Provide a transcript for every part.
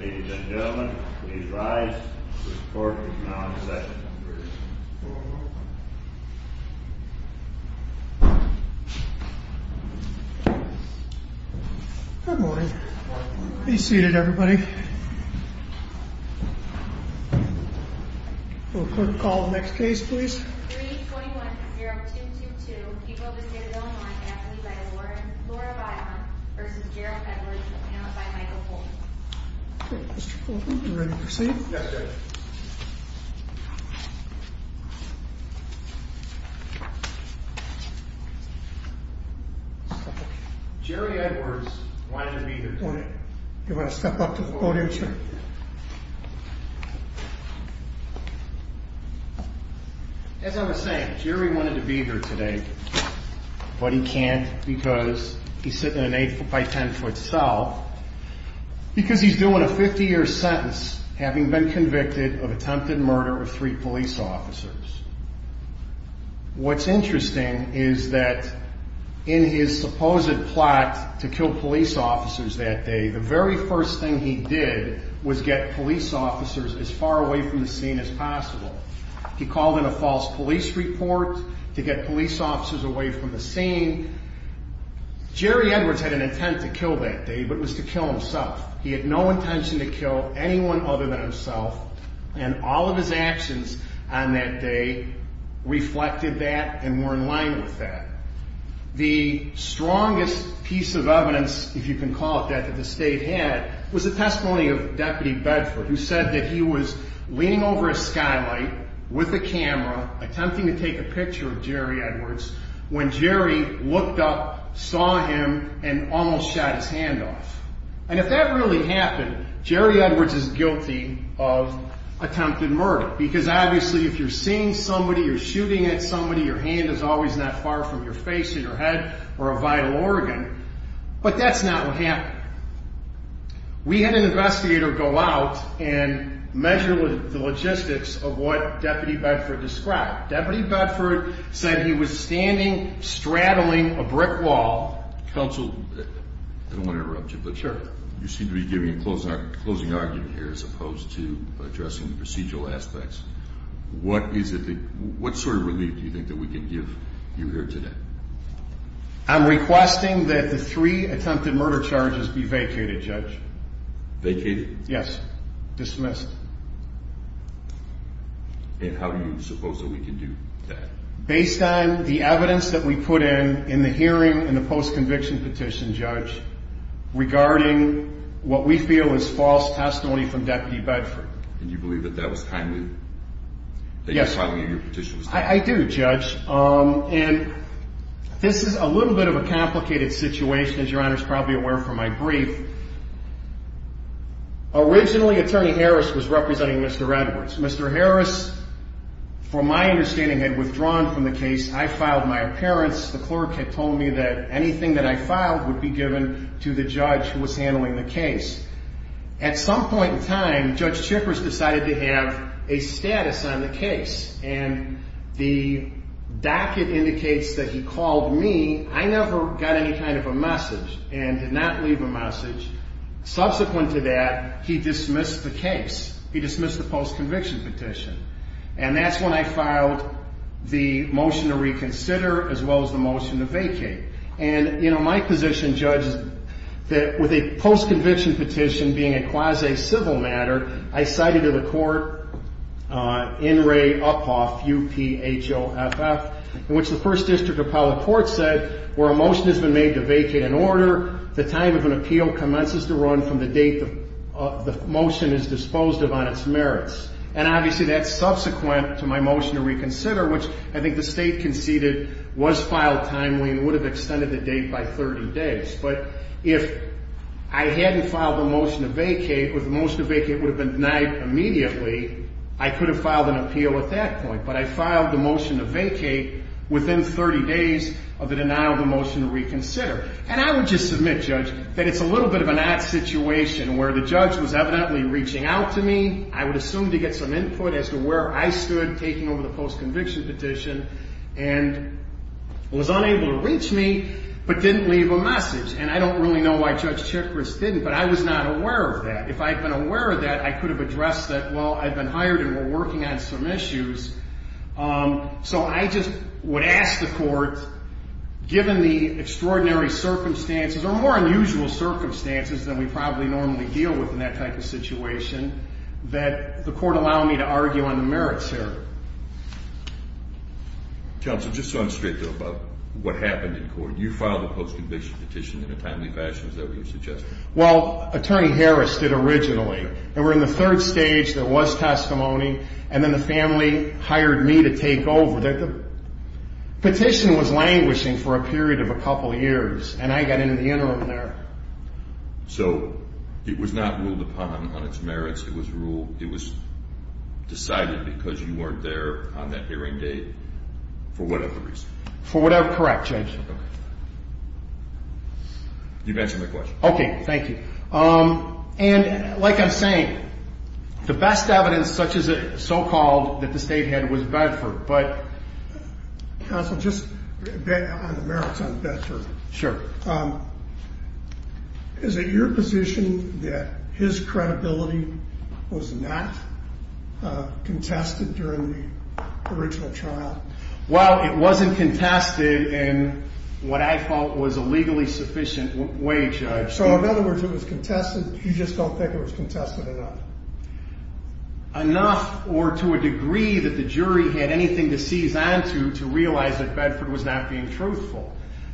Ladies and gentlemen, please rise to report to the Connecticut Session Room. Good morning. Please be seated, everybody. We'll call the next case, please. Case number 321-0222, People of the State of Illinois, affidavit by Laura Byron v. Gerald Edwards, paneled by Michael Colton. Mr. Colton, are you ready to proceed? Yes, sir. Jerry Edwards wanted to meet the court. Do you want to step up to the podium, sir? As I was saying, Jerry wanted to be here today, but he can't because he's sitting in an 8-by-10-foot cell, because he's doing a 50-year sentence having been convicted of attempted murder of three police officers. What's interesting is that in his supposed plot to kill police officers that day, the very first thing he did was get police officers as far away from the scene as possible. He called in a false police report to get police officers away from the scene. Jerry Edwards had an intent to kill that day, but it was to kill himself. He had no intention to kill anyone other than himself, and all of his actions on that day reflected that and were in line with that. The strongest piece of evidence, if you can call it that, that the state had was the testimony of Deputy Bedford, who said that he was leaning over a skylight with a camera attempting to take a picture of Jerry Edwards when Jerry looked up, saw him, and almost shot his hand off. And if that really happened, Jerry Edwards is guilty of attempted murder, because obviously if you're seeing somebody, you're shooting at somebody, your hand is always not far from your face or your head or a vital organ, but that's not what happened. We had an investigator go out and measure the logistics of what Deputy Bedford described. Deputy Bedford said he was standing, straddling a brick wall. Counsel, I don't want to interrupt you, but you seem to be giving a closing argument here as opposed to addressing the procedural aspects. What sort of relief do you think that we can give you here today? I'm requesting that the three attempted murder charges be vacated, Judge. Vacated? Yes. Dismissed. And how do you suppose that we can do that? Based on the evidence that we put in in the hearing in the post-conviction petition, Judge, regarding what we feel is false testimony from Deputy Bedford. And you believe that that was timely? Yes. That you were telling me your petition was timely? I do, Judge. And this is a little bit of a complicated situation, as Your Honor is probably aware from my brief. Originally, Attorney Harris was representing Mr. Edwards. Mr. Harris, from my understanding, had withdrawn from the case. I filed my appearance. The clerk had told me that anything that I filed would be given to the judge who was handling the case. At some point in time, Judge Chippers decided to have a status on the case. And the docket indicates that he called me. I never got any kind of a message and did not leave a message. Subsequent to that, he dismissed the case. He dismissed the post-conviction petition. And that's when I filed the motion to reconsider as well as the motion to vacate. And, you know, my position, Judge, is that with a post-conviction petition being a quasi-civil matter, I cited to the court N. Ray Uphoff, U-P-H-O-F-F, in which the First District Appellate Court said where a motion has been made to vacate an order, the time of an appeal commences to run from the date the motion is disposed of on its merits. And obviously that's subsequent to my motion to reconsider, which I think the State conceded was filed timely and would have extended the date by 30 days. But if I hadn't filed the motion to vacate, or the motion to vacate would have been denied immediately, I could have filed an appeal at that point. But I filed the motion to vacate within 30 days of the denial of the motion to reconsider. And I would just submit, Judge, that it's a little bit of an odd situation where the judge was evidently reaching out to me, I would assume to get some input as to where I stood taking over the post-conviction petition, and was unable to reach me, but didn't leave a message. And I don't really know why Judge Chikris didn't, but I was not aware of that. If I had been aware of that, I could have addressed that, well, I've been hired and we're working on some issues. So I just would ask the court, given the extraordinary circumstances, or more unusual circumstances than we probably normally deal with in that type of situation, that the court allow me to argue on the merits here. Counsel, just so I'm straight, though, about what happened in court. You filed a post-conviction petition in a timely fashion, as ever you suggested. Well, Attorney Harris did originally. They were in the third stage, there was testimony, and then the family hired me to take over. The petition was languishing for a period of a couple years, and I got in the interim there. So it was not ruled upon on its merits. It was decided because you weren't there on that hearing date for whatever reason. For whatever, correct, Judge. Okay. You've answered my question. Okay, thank you. And like I'm saying, the best evidence, so-called, that the state had was Bedford. But, Counsel, just on the merits on Bedford. Sure. Is it your position that his credibility was not contested during the original trial? Well, it wasn't contested in what I felt was a legally sufficient way, Judge. So, in other words, it was contested. You just don't think it was contested enough? Enough or to a degree that the jury had anything to seize onto to realize that Bedford was not being truthful.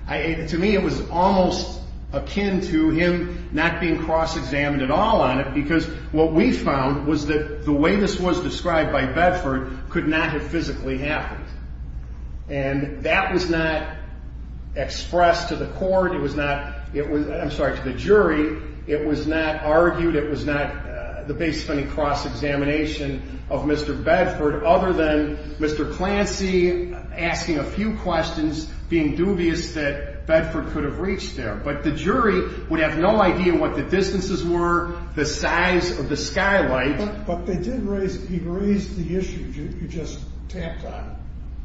To me, it was almost akin to him not being cross-examined at all on it because what we found was that the way this was described by Bedford could not have physically happened. And that was not expressed to the court. It was not, I'm sorry, to the jury. It was not argued. It was not the base of any cross-examination of Mr. Bedford other than Mr. Clancy asking a few questions, being dubious that Bedford could have reached there. But the jury would have no idea what the distances were, the size of the skylight. But he raised the issue you just tapped on,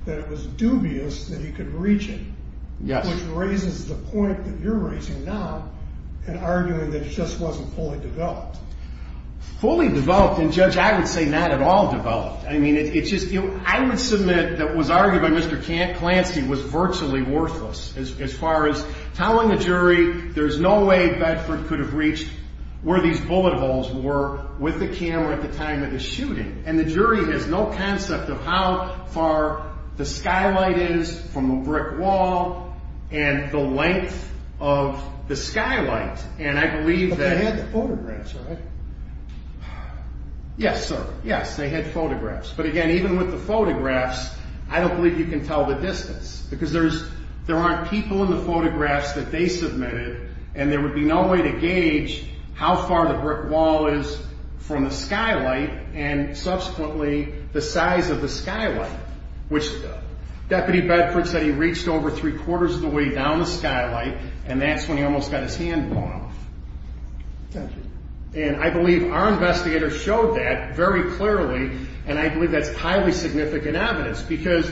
that it was dubious that he could reach it. Yes. Which raises the point that you're raising now in arguing that it just wasn't fully developed. Fully developed? And, Judge, I would say not at all developed. I mean, it's just, you know, I would submit that what was argued by Mr. Clancy was virtually worthless as far as telling the jury there's no way Bedford could have reached where these bullet holes were with the camera at the time of the shooting. And the jury has no concept of how far the skylight is from a brick wall and the length of the skylight. And I believe that But they had the photographs, right? Yes, sir. Yes, they had photographs. But, again, even with the photographs, I don't believe you can tell the distance because there aren't people in the photographs that they submitted and there would be no way to gauge how far the brick wall is from the skylight and, subsequently, the size of the skylight. Which Deputy Bedford said he reached over three-quarters of the way down the skylight and that's when he almost got his hand blown off. Thank you. And I believe our investigators showed that very clearly and I believe that's highly significant evidence because,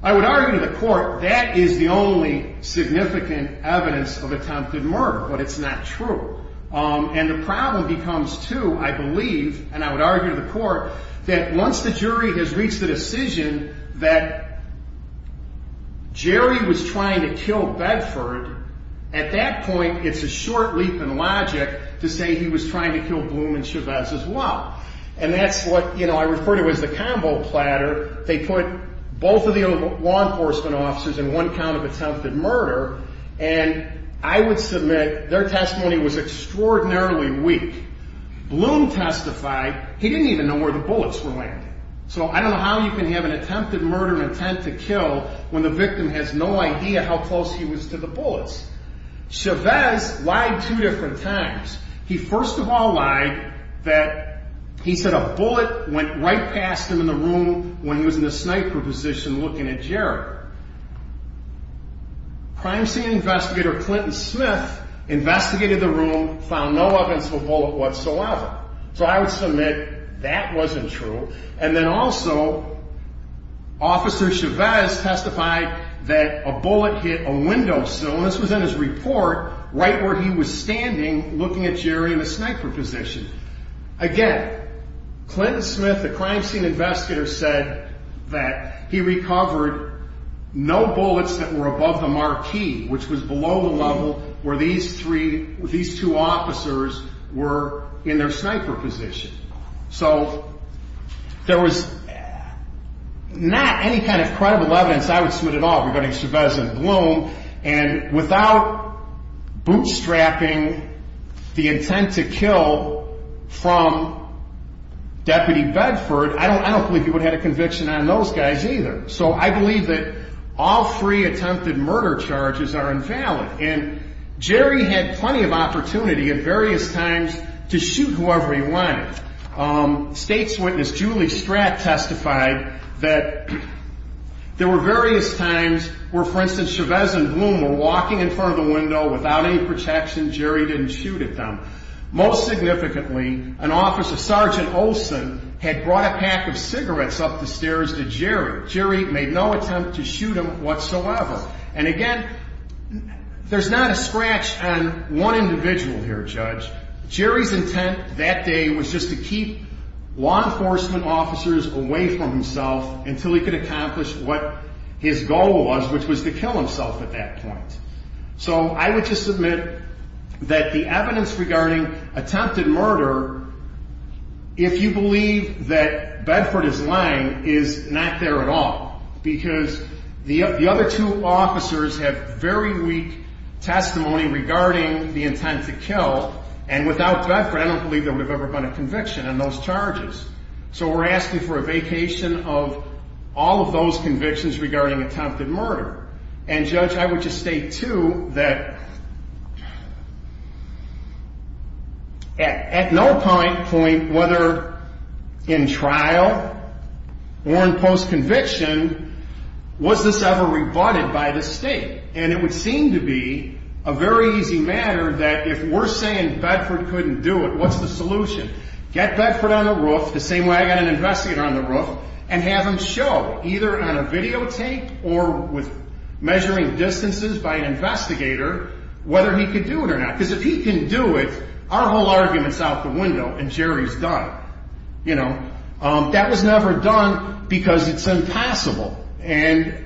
I would argue to the court, that is the only significant evidence of attempted murder but it's not true. And the problem becomes, too, I believe, and I would argue to the court, that once the jury has reached the decision that Jerry was trying to kill Bedford, at that point, it's a short leap in logic to say he was trying to kill Bloom and Chavez as well. And that's what I refer to as the convo platter. They put both of the law enforcement officers in one count of attempted murder and I would submit their testimony was extraordinarily weak. Bloom testified. He didn't even know where the bullets were landing. So I don't know how you can have an attempted murder intent to kill when the victim has no idea how close he was to the bullets. Chavez lied two different times. He first of all lied that he said a bullet went right past him in the room when he was in the sniper position looking at Jerry. Crime scene investigator Clinton Smith investigated the room, found no evidence of a bullet whatsoever. So I would submit that wasn't true. And then also, Officer Chavez testified that a bullet hit a window sill, and this was in his report, right where he was standing looking at Jerry in the sniper position. Again, Clinton Smith, the crime scene investigator, said that he recovered no bullets that were above the marquee, which was below the level where these two officers were in their sniper position. So there was not any kind of credible evidence I would submit at all regarding Chavez and Bloom. And without bootstrapping the intent to kill from Deputy Bedford, I don't believe he would have had a conviction on those guys either. So I believe that all three attempted murder charges are invalid. And Jerry had plenty of opportunity at various times to shoot whoever he wanted. State's witness Julie Stratt testified that there were various times where, for instance, Chavez and Bloom were walking in front of the window without any protection. Jerry didn't shoot at them. Most significantly, an officer, Sergeant Olson, had brought a pack of cigarettes up the stairs to Jerry. Jerry made no attempt to shoot him whatsoever. And again, there's not a scratch on one individual here, Judge. Jerry's intent that day was just to keep law enforcement officers away from himself until he could accomplish what his goal was, which was to kill himself at that point. So I would just submit that the evidence regarding attempted murder, if you believe that Bedford is lying, is not there at all. Because the other two officers have very weak testimony regarding the intent to kill. And without Bedford, I don't believe there would have ever been a conviction on those charges. So we're asking for a vacation of all of those convictions regarding attempted murder. And, Judge, I would just state, too, that at no point, whether in trial or in post-conviction, was this ever rebutted by the State. And it would seem to be a very easy matter that if we're saying Bedford couldn't do it, what's the solution? Get Bedford on the roof, the same way I got an investigator on the roof, and have him show, either on a videotape or with measuring distances by an investigator, whether he could do it or not. Because if he can do it, our whole argument's out the window and Jerry's done. That was never done because it's impossible. And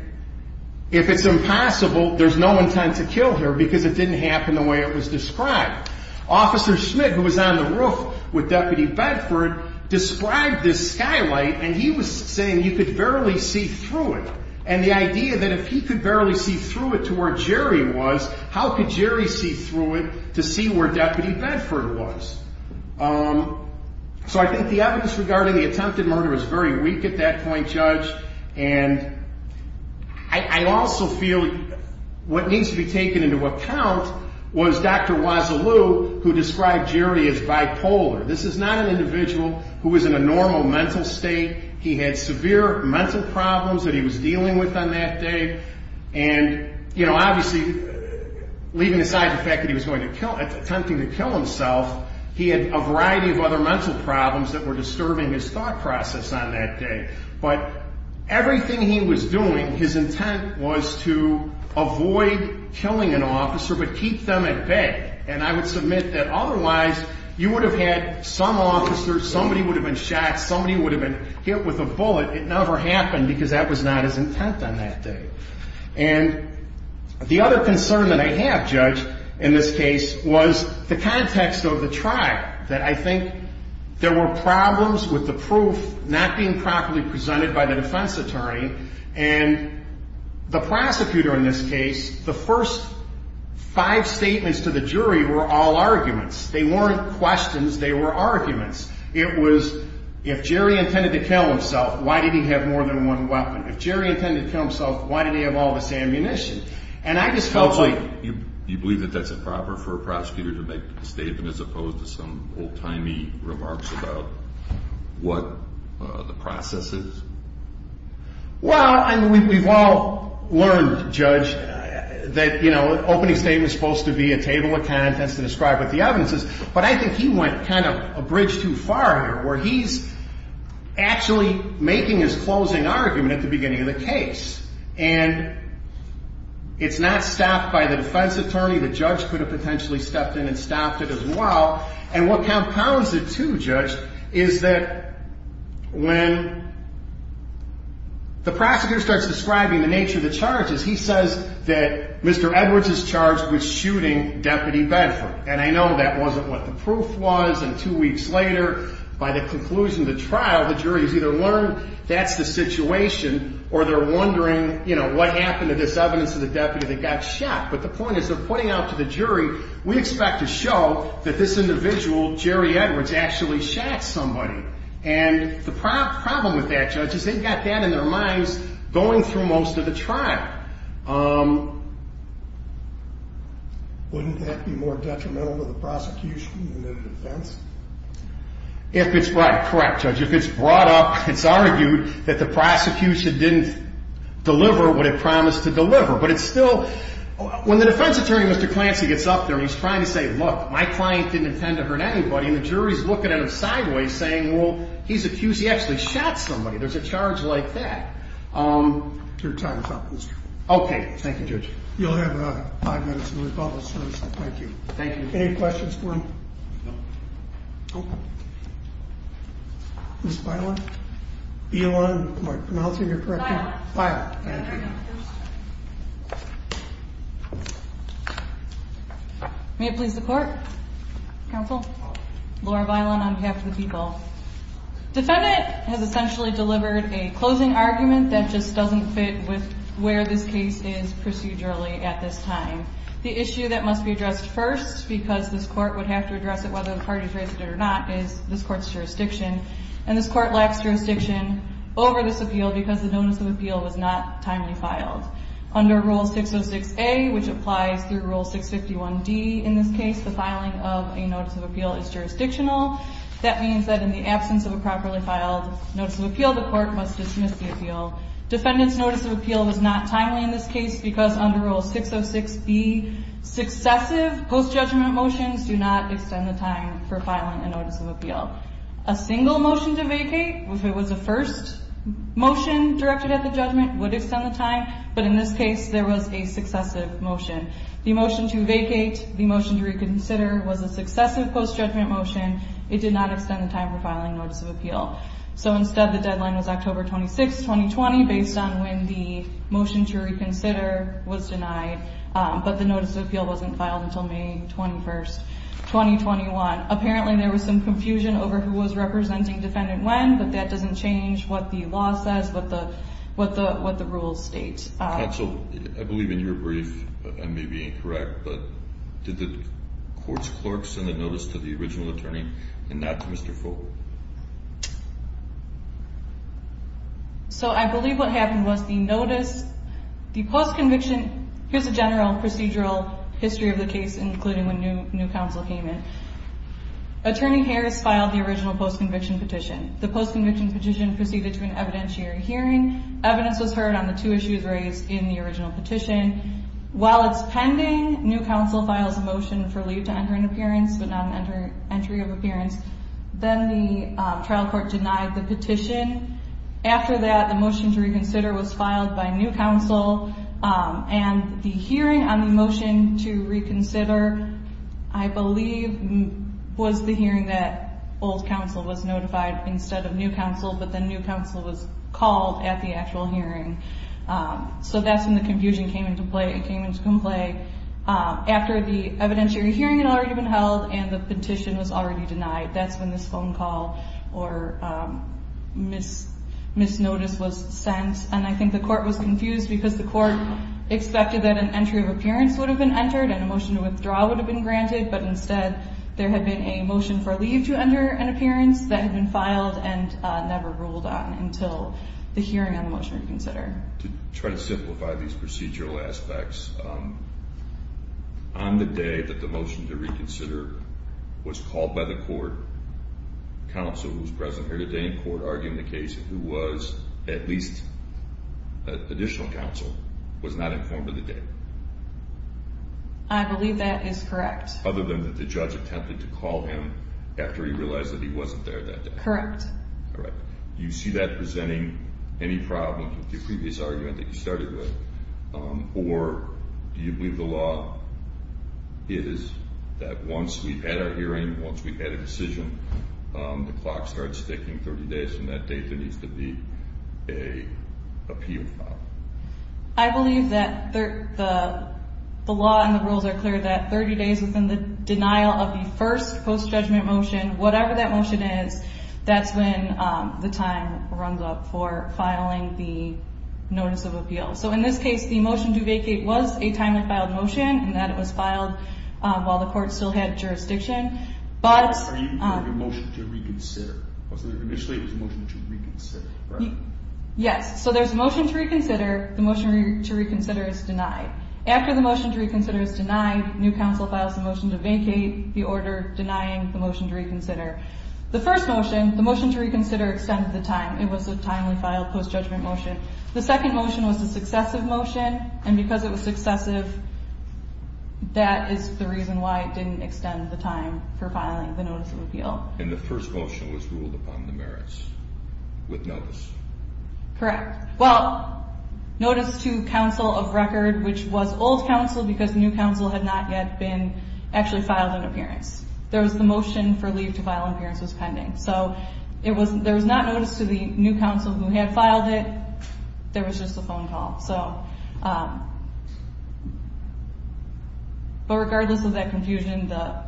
if it's impossible, there's no intent to kill here because it didn't happen the way it was described. Officer Schmidt, who was on the roof with Deputy Bedford, described this skylight, and he was saying you could barely see through it. And the idea that if he could barely see through it to where Jerry was, how could Jerry see through it to see where Deputy Bedford was? So I think the evidence regarding the attempted murder is very weak at that point, Judge. And I also feel what needs to be taken into account was Dr. Wazzaloo, who described Jerry as bipolar. This is not an individual who was in a normal mental state. He had severe mental problems that he was dealing with on that day. And, you know, obviously, leaving aside the fact that he was attempting to kill himself, he had a variety of other mental problems that were disturbing his thought process on that day. But everything he was doing, his intent was to avoid killing an officer but keep them at bay. And I would submit that otherwise you would have had some officer, somebody would have been shot, somebody would have been hit with a bullet. It never happened because that was not his intent on that day. And the other concern that I have, Judge, in this case was the context of the trial, that I think there were problems with the proof not being properly presented by the defense attorney. And the prosecutor in this case, the first five statements to the jury were all arguments. They weren't questions. They were arguments. It was if Jerry intended to kill himself, why did he have more than one weapon? If Jerry intended to kill himself, why did he have all this ammunition? And I just felt like... as opposed to some old-timey remarks about what the process is. Well, we've all learned, Judge, that an opening statement is supposed to be a table of contents to describe what the evidence is, but I think he went kind of a bridge too far here where he's actually making his closing argument at the beginning of the case. And it's not stopped by the defense attorney. The judge could have potentially stepped in and stopped it as well. And what compounds it too, Judge, is that when the prosecutor starts describing the nature of the charges, he says that Mr. Edwards is charged with shooting Deputy Benford. And I know that wasn't what the proof was, and two weeks later, by the conclusion of the trial, the jury has either learned that's the situation or they're wondering, you know, what happened to this evidence of the deputy that got shot. But the point is they're pointing out to the jury, we expect to show that this individual, Jerry Edwards, actually shot somebody. And the problem with that, Judge, is they've got that in their minds going through most of the trial. Wouldn't that be more detrimental to the prosecution than the defense? If it's brought up, correct, Judge. If it's brought up, it's argued that the prosecution didn't deliver what it promised to deliver. But it's still – when the defense attorney, Mr. Clancy, gets up there and he's trying to say, look, my client didn't intend to hurt anybody, and the jury's looking at him sideways saying, well, he's accused he actually shot somebody. There's a charge like that. Your time is up, Mr. Krugman. Okay. Thank you, Judge. You'll have five minutes of rebuttal, sir, so thank you. Thank you. Any questions for him? No. Okay. Ms. Bailon? Bailon? Am I pronouncing your correct name? Bailon. Bailon. Thank you. May it please the Court. Counsel. Laura Bailon on behalf of the people. Defendant has essentially delivered a closing argument that just doesn't fit with where this case is procedurally at this time. The issue that must be addressed first, because this Court would have to address it whether the parties raised it or not, is this Court's jurisdiction. And this Court lacks jurisdiction over this appeal because the notice of appeal was not timely filed. Under Rule 606A, which applies through Rule 651D in this case, the filing of a notice of appeal is jurisdictional. That means that in the absence of a properly filed notice of appeal, the Court must dismiss the appeal. Defendant's notice of appeal was not timely in this case because under Rule 606B, successive post-judgment motions do not extend the time for filing a notice of appeal. A single motion to vacate, if it was a first motion directed at the judgment, would extend the time. But in this case, there was a successive motion. The motion to vacate, the motion to reconsider, was a successive post-judgment motion. It did not extend the time for filing a notice of appeal. So instead, the deadline was October 26, 2020, based on when the motion to reconsider was denied. But the notice of appeal wasn't filed until May 21, 2021. Apparently, there was some confusion over who was representing defendant when, but that doesn't change what the law says, what the rules state. Counsel, I believe in your brief, I may be incorrect, but did the Court's clerk send a notice to the original attorney and not to Mr. Fogel? So I believe what happened was the notice, the post-conviction, here's a general procedural history of the case, including when new counsel came in. Attorney Harris filed the original post-conviction petition. The post-conviction petition proceeded to an evidentiary hearing. Evidence was heard on the two issues raised in the original petition. While it's pending, new counsel files a motion for leave to enter an appearance, but not an entry of appearance. Then the trial court denied the petition. After that, the motion to reconsider was filed by new counsel. And the hearing on the motion to reconsider, I believe, was the hearing that old counsel was notified instead of new counsel, but then new counsel was called at the actual hearing. So that's when the confusion came into play. After the evidentiary hearing had already been held and the petition was already denied, that's when this phone call or misnotice was sent. And I think the court was confused because the court expected that an entry of appearance would have been entered and a motion to withdraw would have been granted, but instead there had been a motion for leave to enter an appearance that had been filed and never ruled on until the hearing on the motion to reconsider. To try to simplify these procedural aspects, on the day that the motion to reconsider was called by the court, the counsel who was present here today in court arguing the case, who was at least additional counsel, was not informed of the date. I believe that is correct. Other than that the judge attempted to call him after he realized that he wasn't there that day. Correct. All right. Do you see that presenting any problem with your previous argument that you started with, or do you believe the law is that once we've had our hearing, once we've had a decision, the clock starts ticking 30 days from that date there needs to be an appeal filed? I believe that the law and the rules are clear that 30 days within the denial of the first post-judgment motion, whatever that motion is, that's when the time runs up for filing the notice of appeal. So in this case the motion to vacate was a timely filed motion, in that it was filed while the court still had jurisdiction. Are you doing a motion to reconsider? Initially it was a motion to reconsider, right? Yes. So there's a motion to reconsider. The motion to reconsider is denied. After the motion to reconsider is denied, new counsel files a motion to vacate, the order denying the motion to reconsider. The first motion, the motion to reconsider, extended the time. It was a timely filed post-judgment motion. The second motion was a successive motion, and because it was successive, that is the reason why it didn't extend the time for filing the notice of appeal. And the first motion was ruled upon the merits with notice. Correct. Well, notice to counsel of record, which was old counsel because new counsel had not yet been actually filed an appearance. There was the motion for leave to file an appearance was pending. So there was not notice to the new counsel who had filed it. There was just a phone call. But regardless of that confusion, the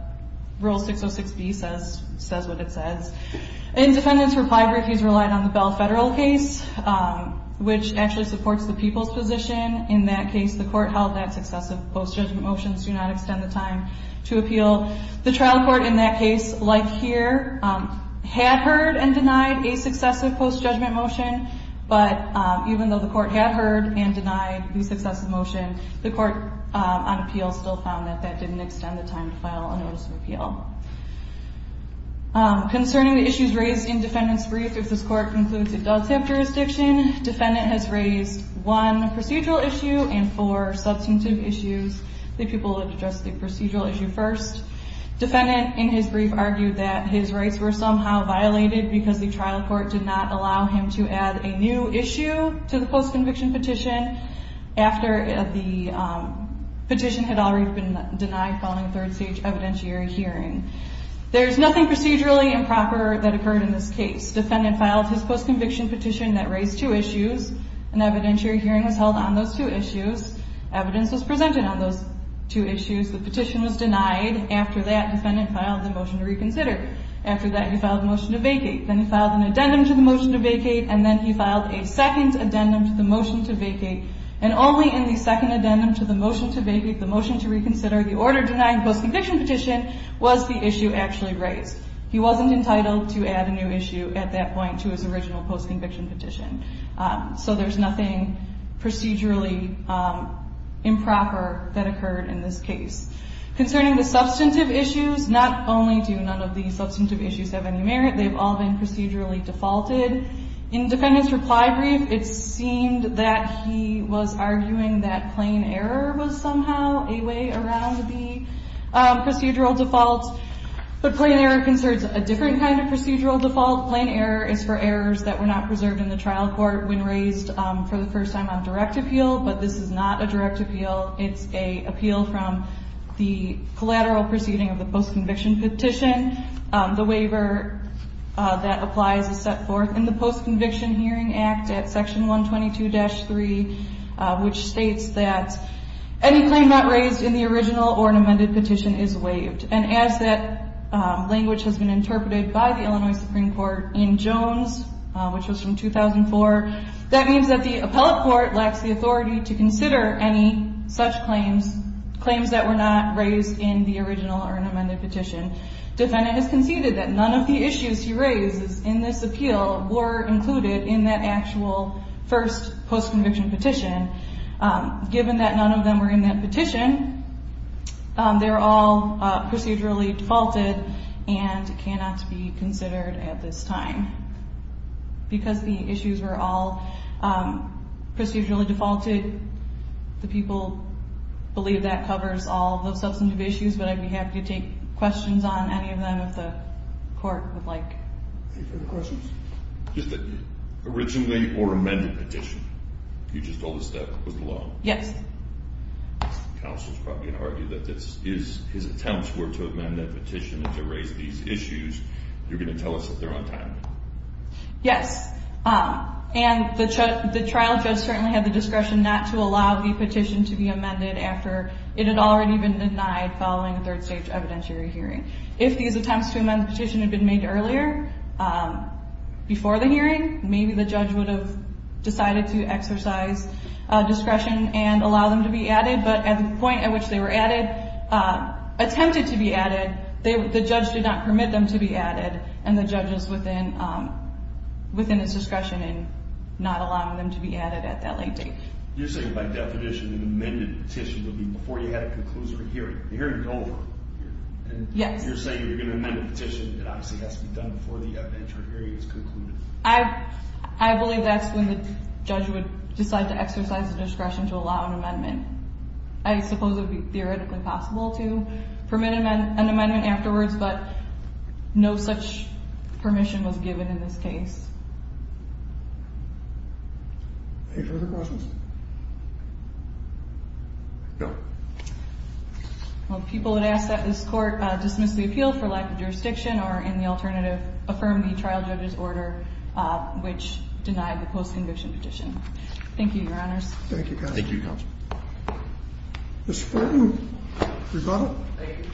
Rule 606B says what it says. Independence for five refused relied on the Bell Federal case, which actually supports the people's position. In that case, the court held that successive post-judgment motions do not extend the time to appeal. The trial court in that case, like here, had heard and denied a successive post-judgment motion, but even though the court had heard and denied the successive motion, the court on appeal still found that that didn't extend the time to file a notice of appeal. Concerning the issues raised in defendant's brief, if this court concludes it does have jurisdiction, defendant has raised one procedural issue and four substantive issues. The people would address the procedural issue first. Defendant, in his brief, argued that his rights were somehow violated because the trial court did not allow him to add a new issue to the post-conviction petition after the petition had already been denied following a third-stage evidentiary hearing. There is nothing procedurally improper that occurred in this case. Defendant filed his post-conviction petition that raised two issues. An evidentiary hearing was held on those two issues. Evidence was presented on those two issues. The petition was denied. After that, defendant filed the motion to reconsider. After that, he filed a motion to vacate. Then he filed an addendum to the motion to vacate, and then he filed a second addendum to the motion to vacate. And only in the second addendum to the motion to vacate, the motion to reconsider, the order denying post-conviction petition was the issue actually raised. He wasn't entitled to add a new issue at that point to his original post-conviction petition. So there's nothing procedurally improper that occurred in this case. Concerning the substantive issues, not only do none of these substantive issues have any merit, they've all been procedurally defaulted. In defendant's reply brief, it seemed that he was arguing that plain error was somehow a way around the procedural default. But plain error concerns a different kind of procedural default. Plain error is for errors that were not preserved in the trial court when raised for the first time on direct appeal. But this is not a direct appeal. It's an appeal from the collateral proceeding of the post-conviction petition. The waiver that applies is set forth in the Post-Conviction Hearing Act at Section 122-3, which states that any claim not raised in the original or an amended petition is waived. And as that language has been interpreted by the Illinois Supreme Court in Jones, which was from 2004, that means that the appellate court lacks the authority to consider any such claims, claims that were not raised in the original or an amended petition. Defendant has conceded that none of the issues he raises in this appeal were included in that actual first post-conviction petition. And given that none of them were in that petition, they're all procedurally defaulted and cannot be considered at this time. Because the issues were all procedurally defaulted, the people believe that covers all the substantive issues, but I'd be happy to take questions on any of them if the court would like. Any further questions? Originally or amended petition, you just told us that was the law. Yes. Counsel's probably going to argue that his attempts were to amend that petition and to raise these issues. You're going to tell us that they're on time. Yes. And the trial judge certainly had the discretion not to allow the petition to be amended after it had already been denied following a third-stage evidentiary hearing. If these attempts to amend the petition had been made earlier, before the hearing, maybe the judge would have decided to exercise discretion and allow them to be added. But at the point at which they were attempted to be added, the judge did not permit them to be added, and the judge is within its discretion in not allowing them to be added at that late date. You're saying by definition an amended petition would be before you had a conclusive hearing, the hearing is over. Yes. You're saying if you're going to amend a petition, it obviously has to be done before the evidentiary hearing is concluded. I believe that's when the judge would decide to exercise the discretion to allow an amendment. I suppose it would be theoretically possible to permit an amendment afterwards, but no such permission was given in this case. Any further questions? No. Well, people would ask that this Court dismiss the appeal for lack of jurisdiction or, in the alternative, affirm the trial judge's order, which denied the post-conviction petition. Thank you, Your Honors. Thank you, Counsel. Thank you, Counsel. Ms. Fulton, rebuttal? Thank you.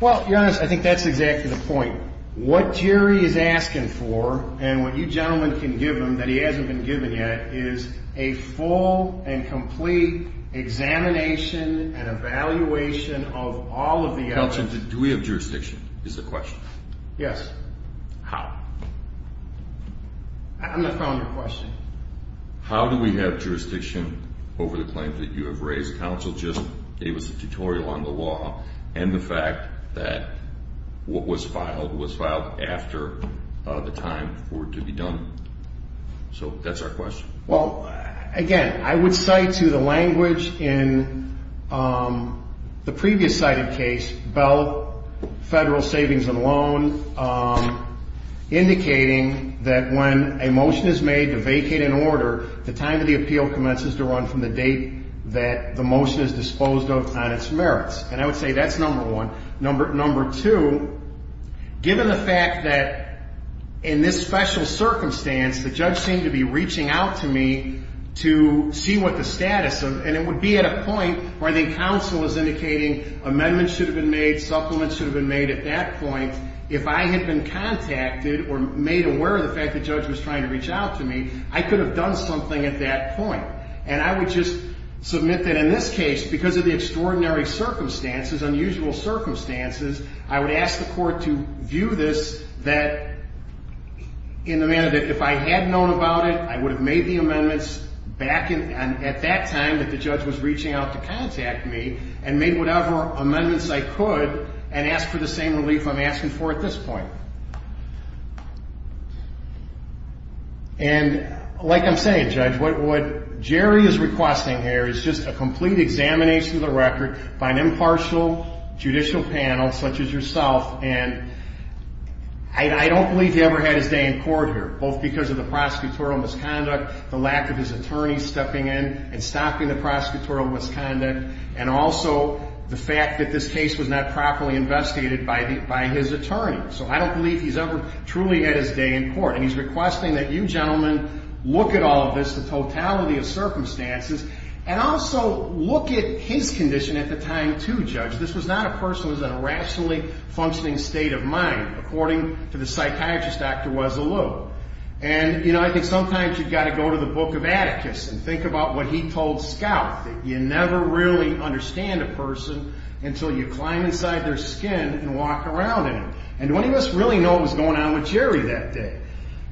Well, Your Honors, I think that's exactly the point. What Jerry is asking for and what you gentlemen can give him that he hasn't been given yet is a full and complete examination and evaluation of all of the evidence. Counsel, do we have jurisdiction, is the question. Yes. How? I'm the founder of the question. How do we have jurisdiction over the claims that you have raised? Counsel just gave us a tutorial on the law and the fact that what was filed was filed after the time for it to be done. So that's our question. Well, again, I would cite to the language in the previous cited case, Bell Federal Savings and Loan, indicating that when a motion is made to vacate an order, the time of the appeal commences to run from the date that the motion is disposed of on its merits. And I would say that's number one. Number two, given the fact that in this special circumstance, the judge seemed to be reaching out to me to see what the status of, and it would be at a point where the counsel is indicating amendments should have been made, supplements should have been made at that point. If I had been contacted or made aware of the fact the judge was trying to reach out to me, I could have done something at that point. And I would just submit that in this case, because of the extraordinary circumstances, unusual circumstances, I would ask the court to view this in the manner that if I had known about it, I would have made the amendments back at that time that the judge was reaching out to contact me and made whatever amendments I could and asked for the same relief I'm asking for at this point. And like I'm saying, Judge, what Jerry is requesting here is just a complete examination of the record by an impartial judicial panel such as yourself. And I don't believe he ever had his day in court here, both because of the prosecutorial misconduct, the lack of his attorney stepping in and stopping the prosecutorial misconduct, and also the fact that this case was not properly investigated by his attorney. So I don't believe he's ever truly had his day in court. And he's requesting that you gentlemen look at all of this, the totality of circumstances, and also look at his condition at the time, too, Judge. This was not a person who was in a rationally functioning state of mind, according to the psychiatrist, Dr. Wessel Lue. And, you know, I think sometimes you've got to go to the book of Atticus and think about what he told Scout, that you never really understand a person until you climb inside their skin and walk around in them. And many of us really know what was going on with Jerry that day.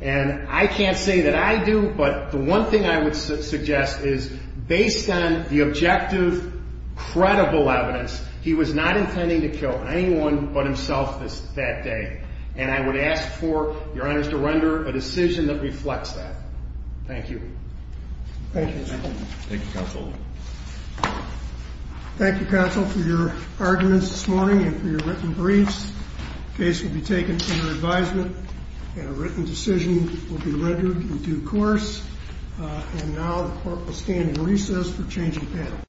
And I can't say that I do, but the one thing I would suggest is, based on the objective, credible evidence, he was not intending to kill anyone but himself that day. And I would ask for your honors to render a decision that reflects that. Thank you. Thank you, counsel. Thank you, counsel, for your arguments this morning and for your written briefs. The case will be taken under advisement, and a written decision will be rendered in due course. And now the court will stand in recess for change of panel.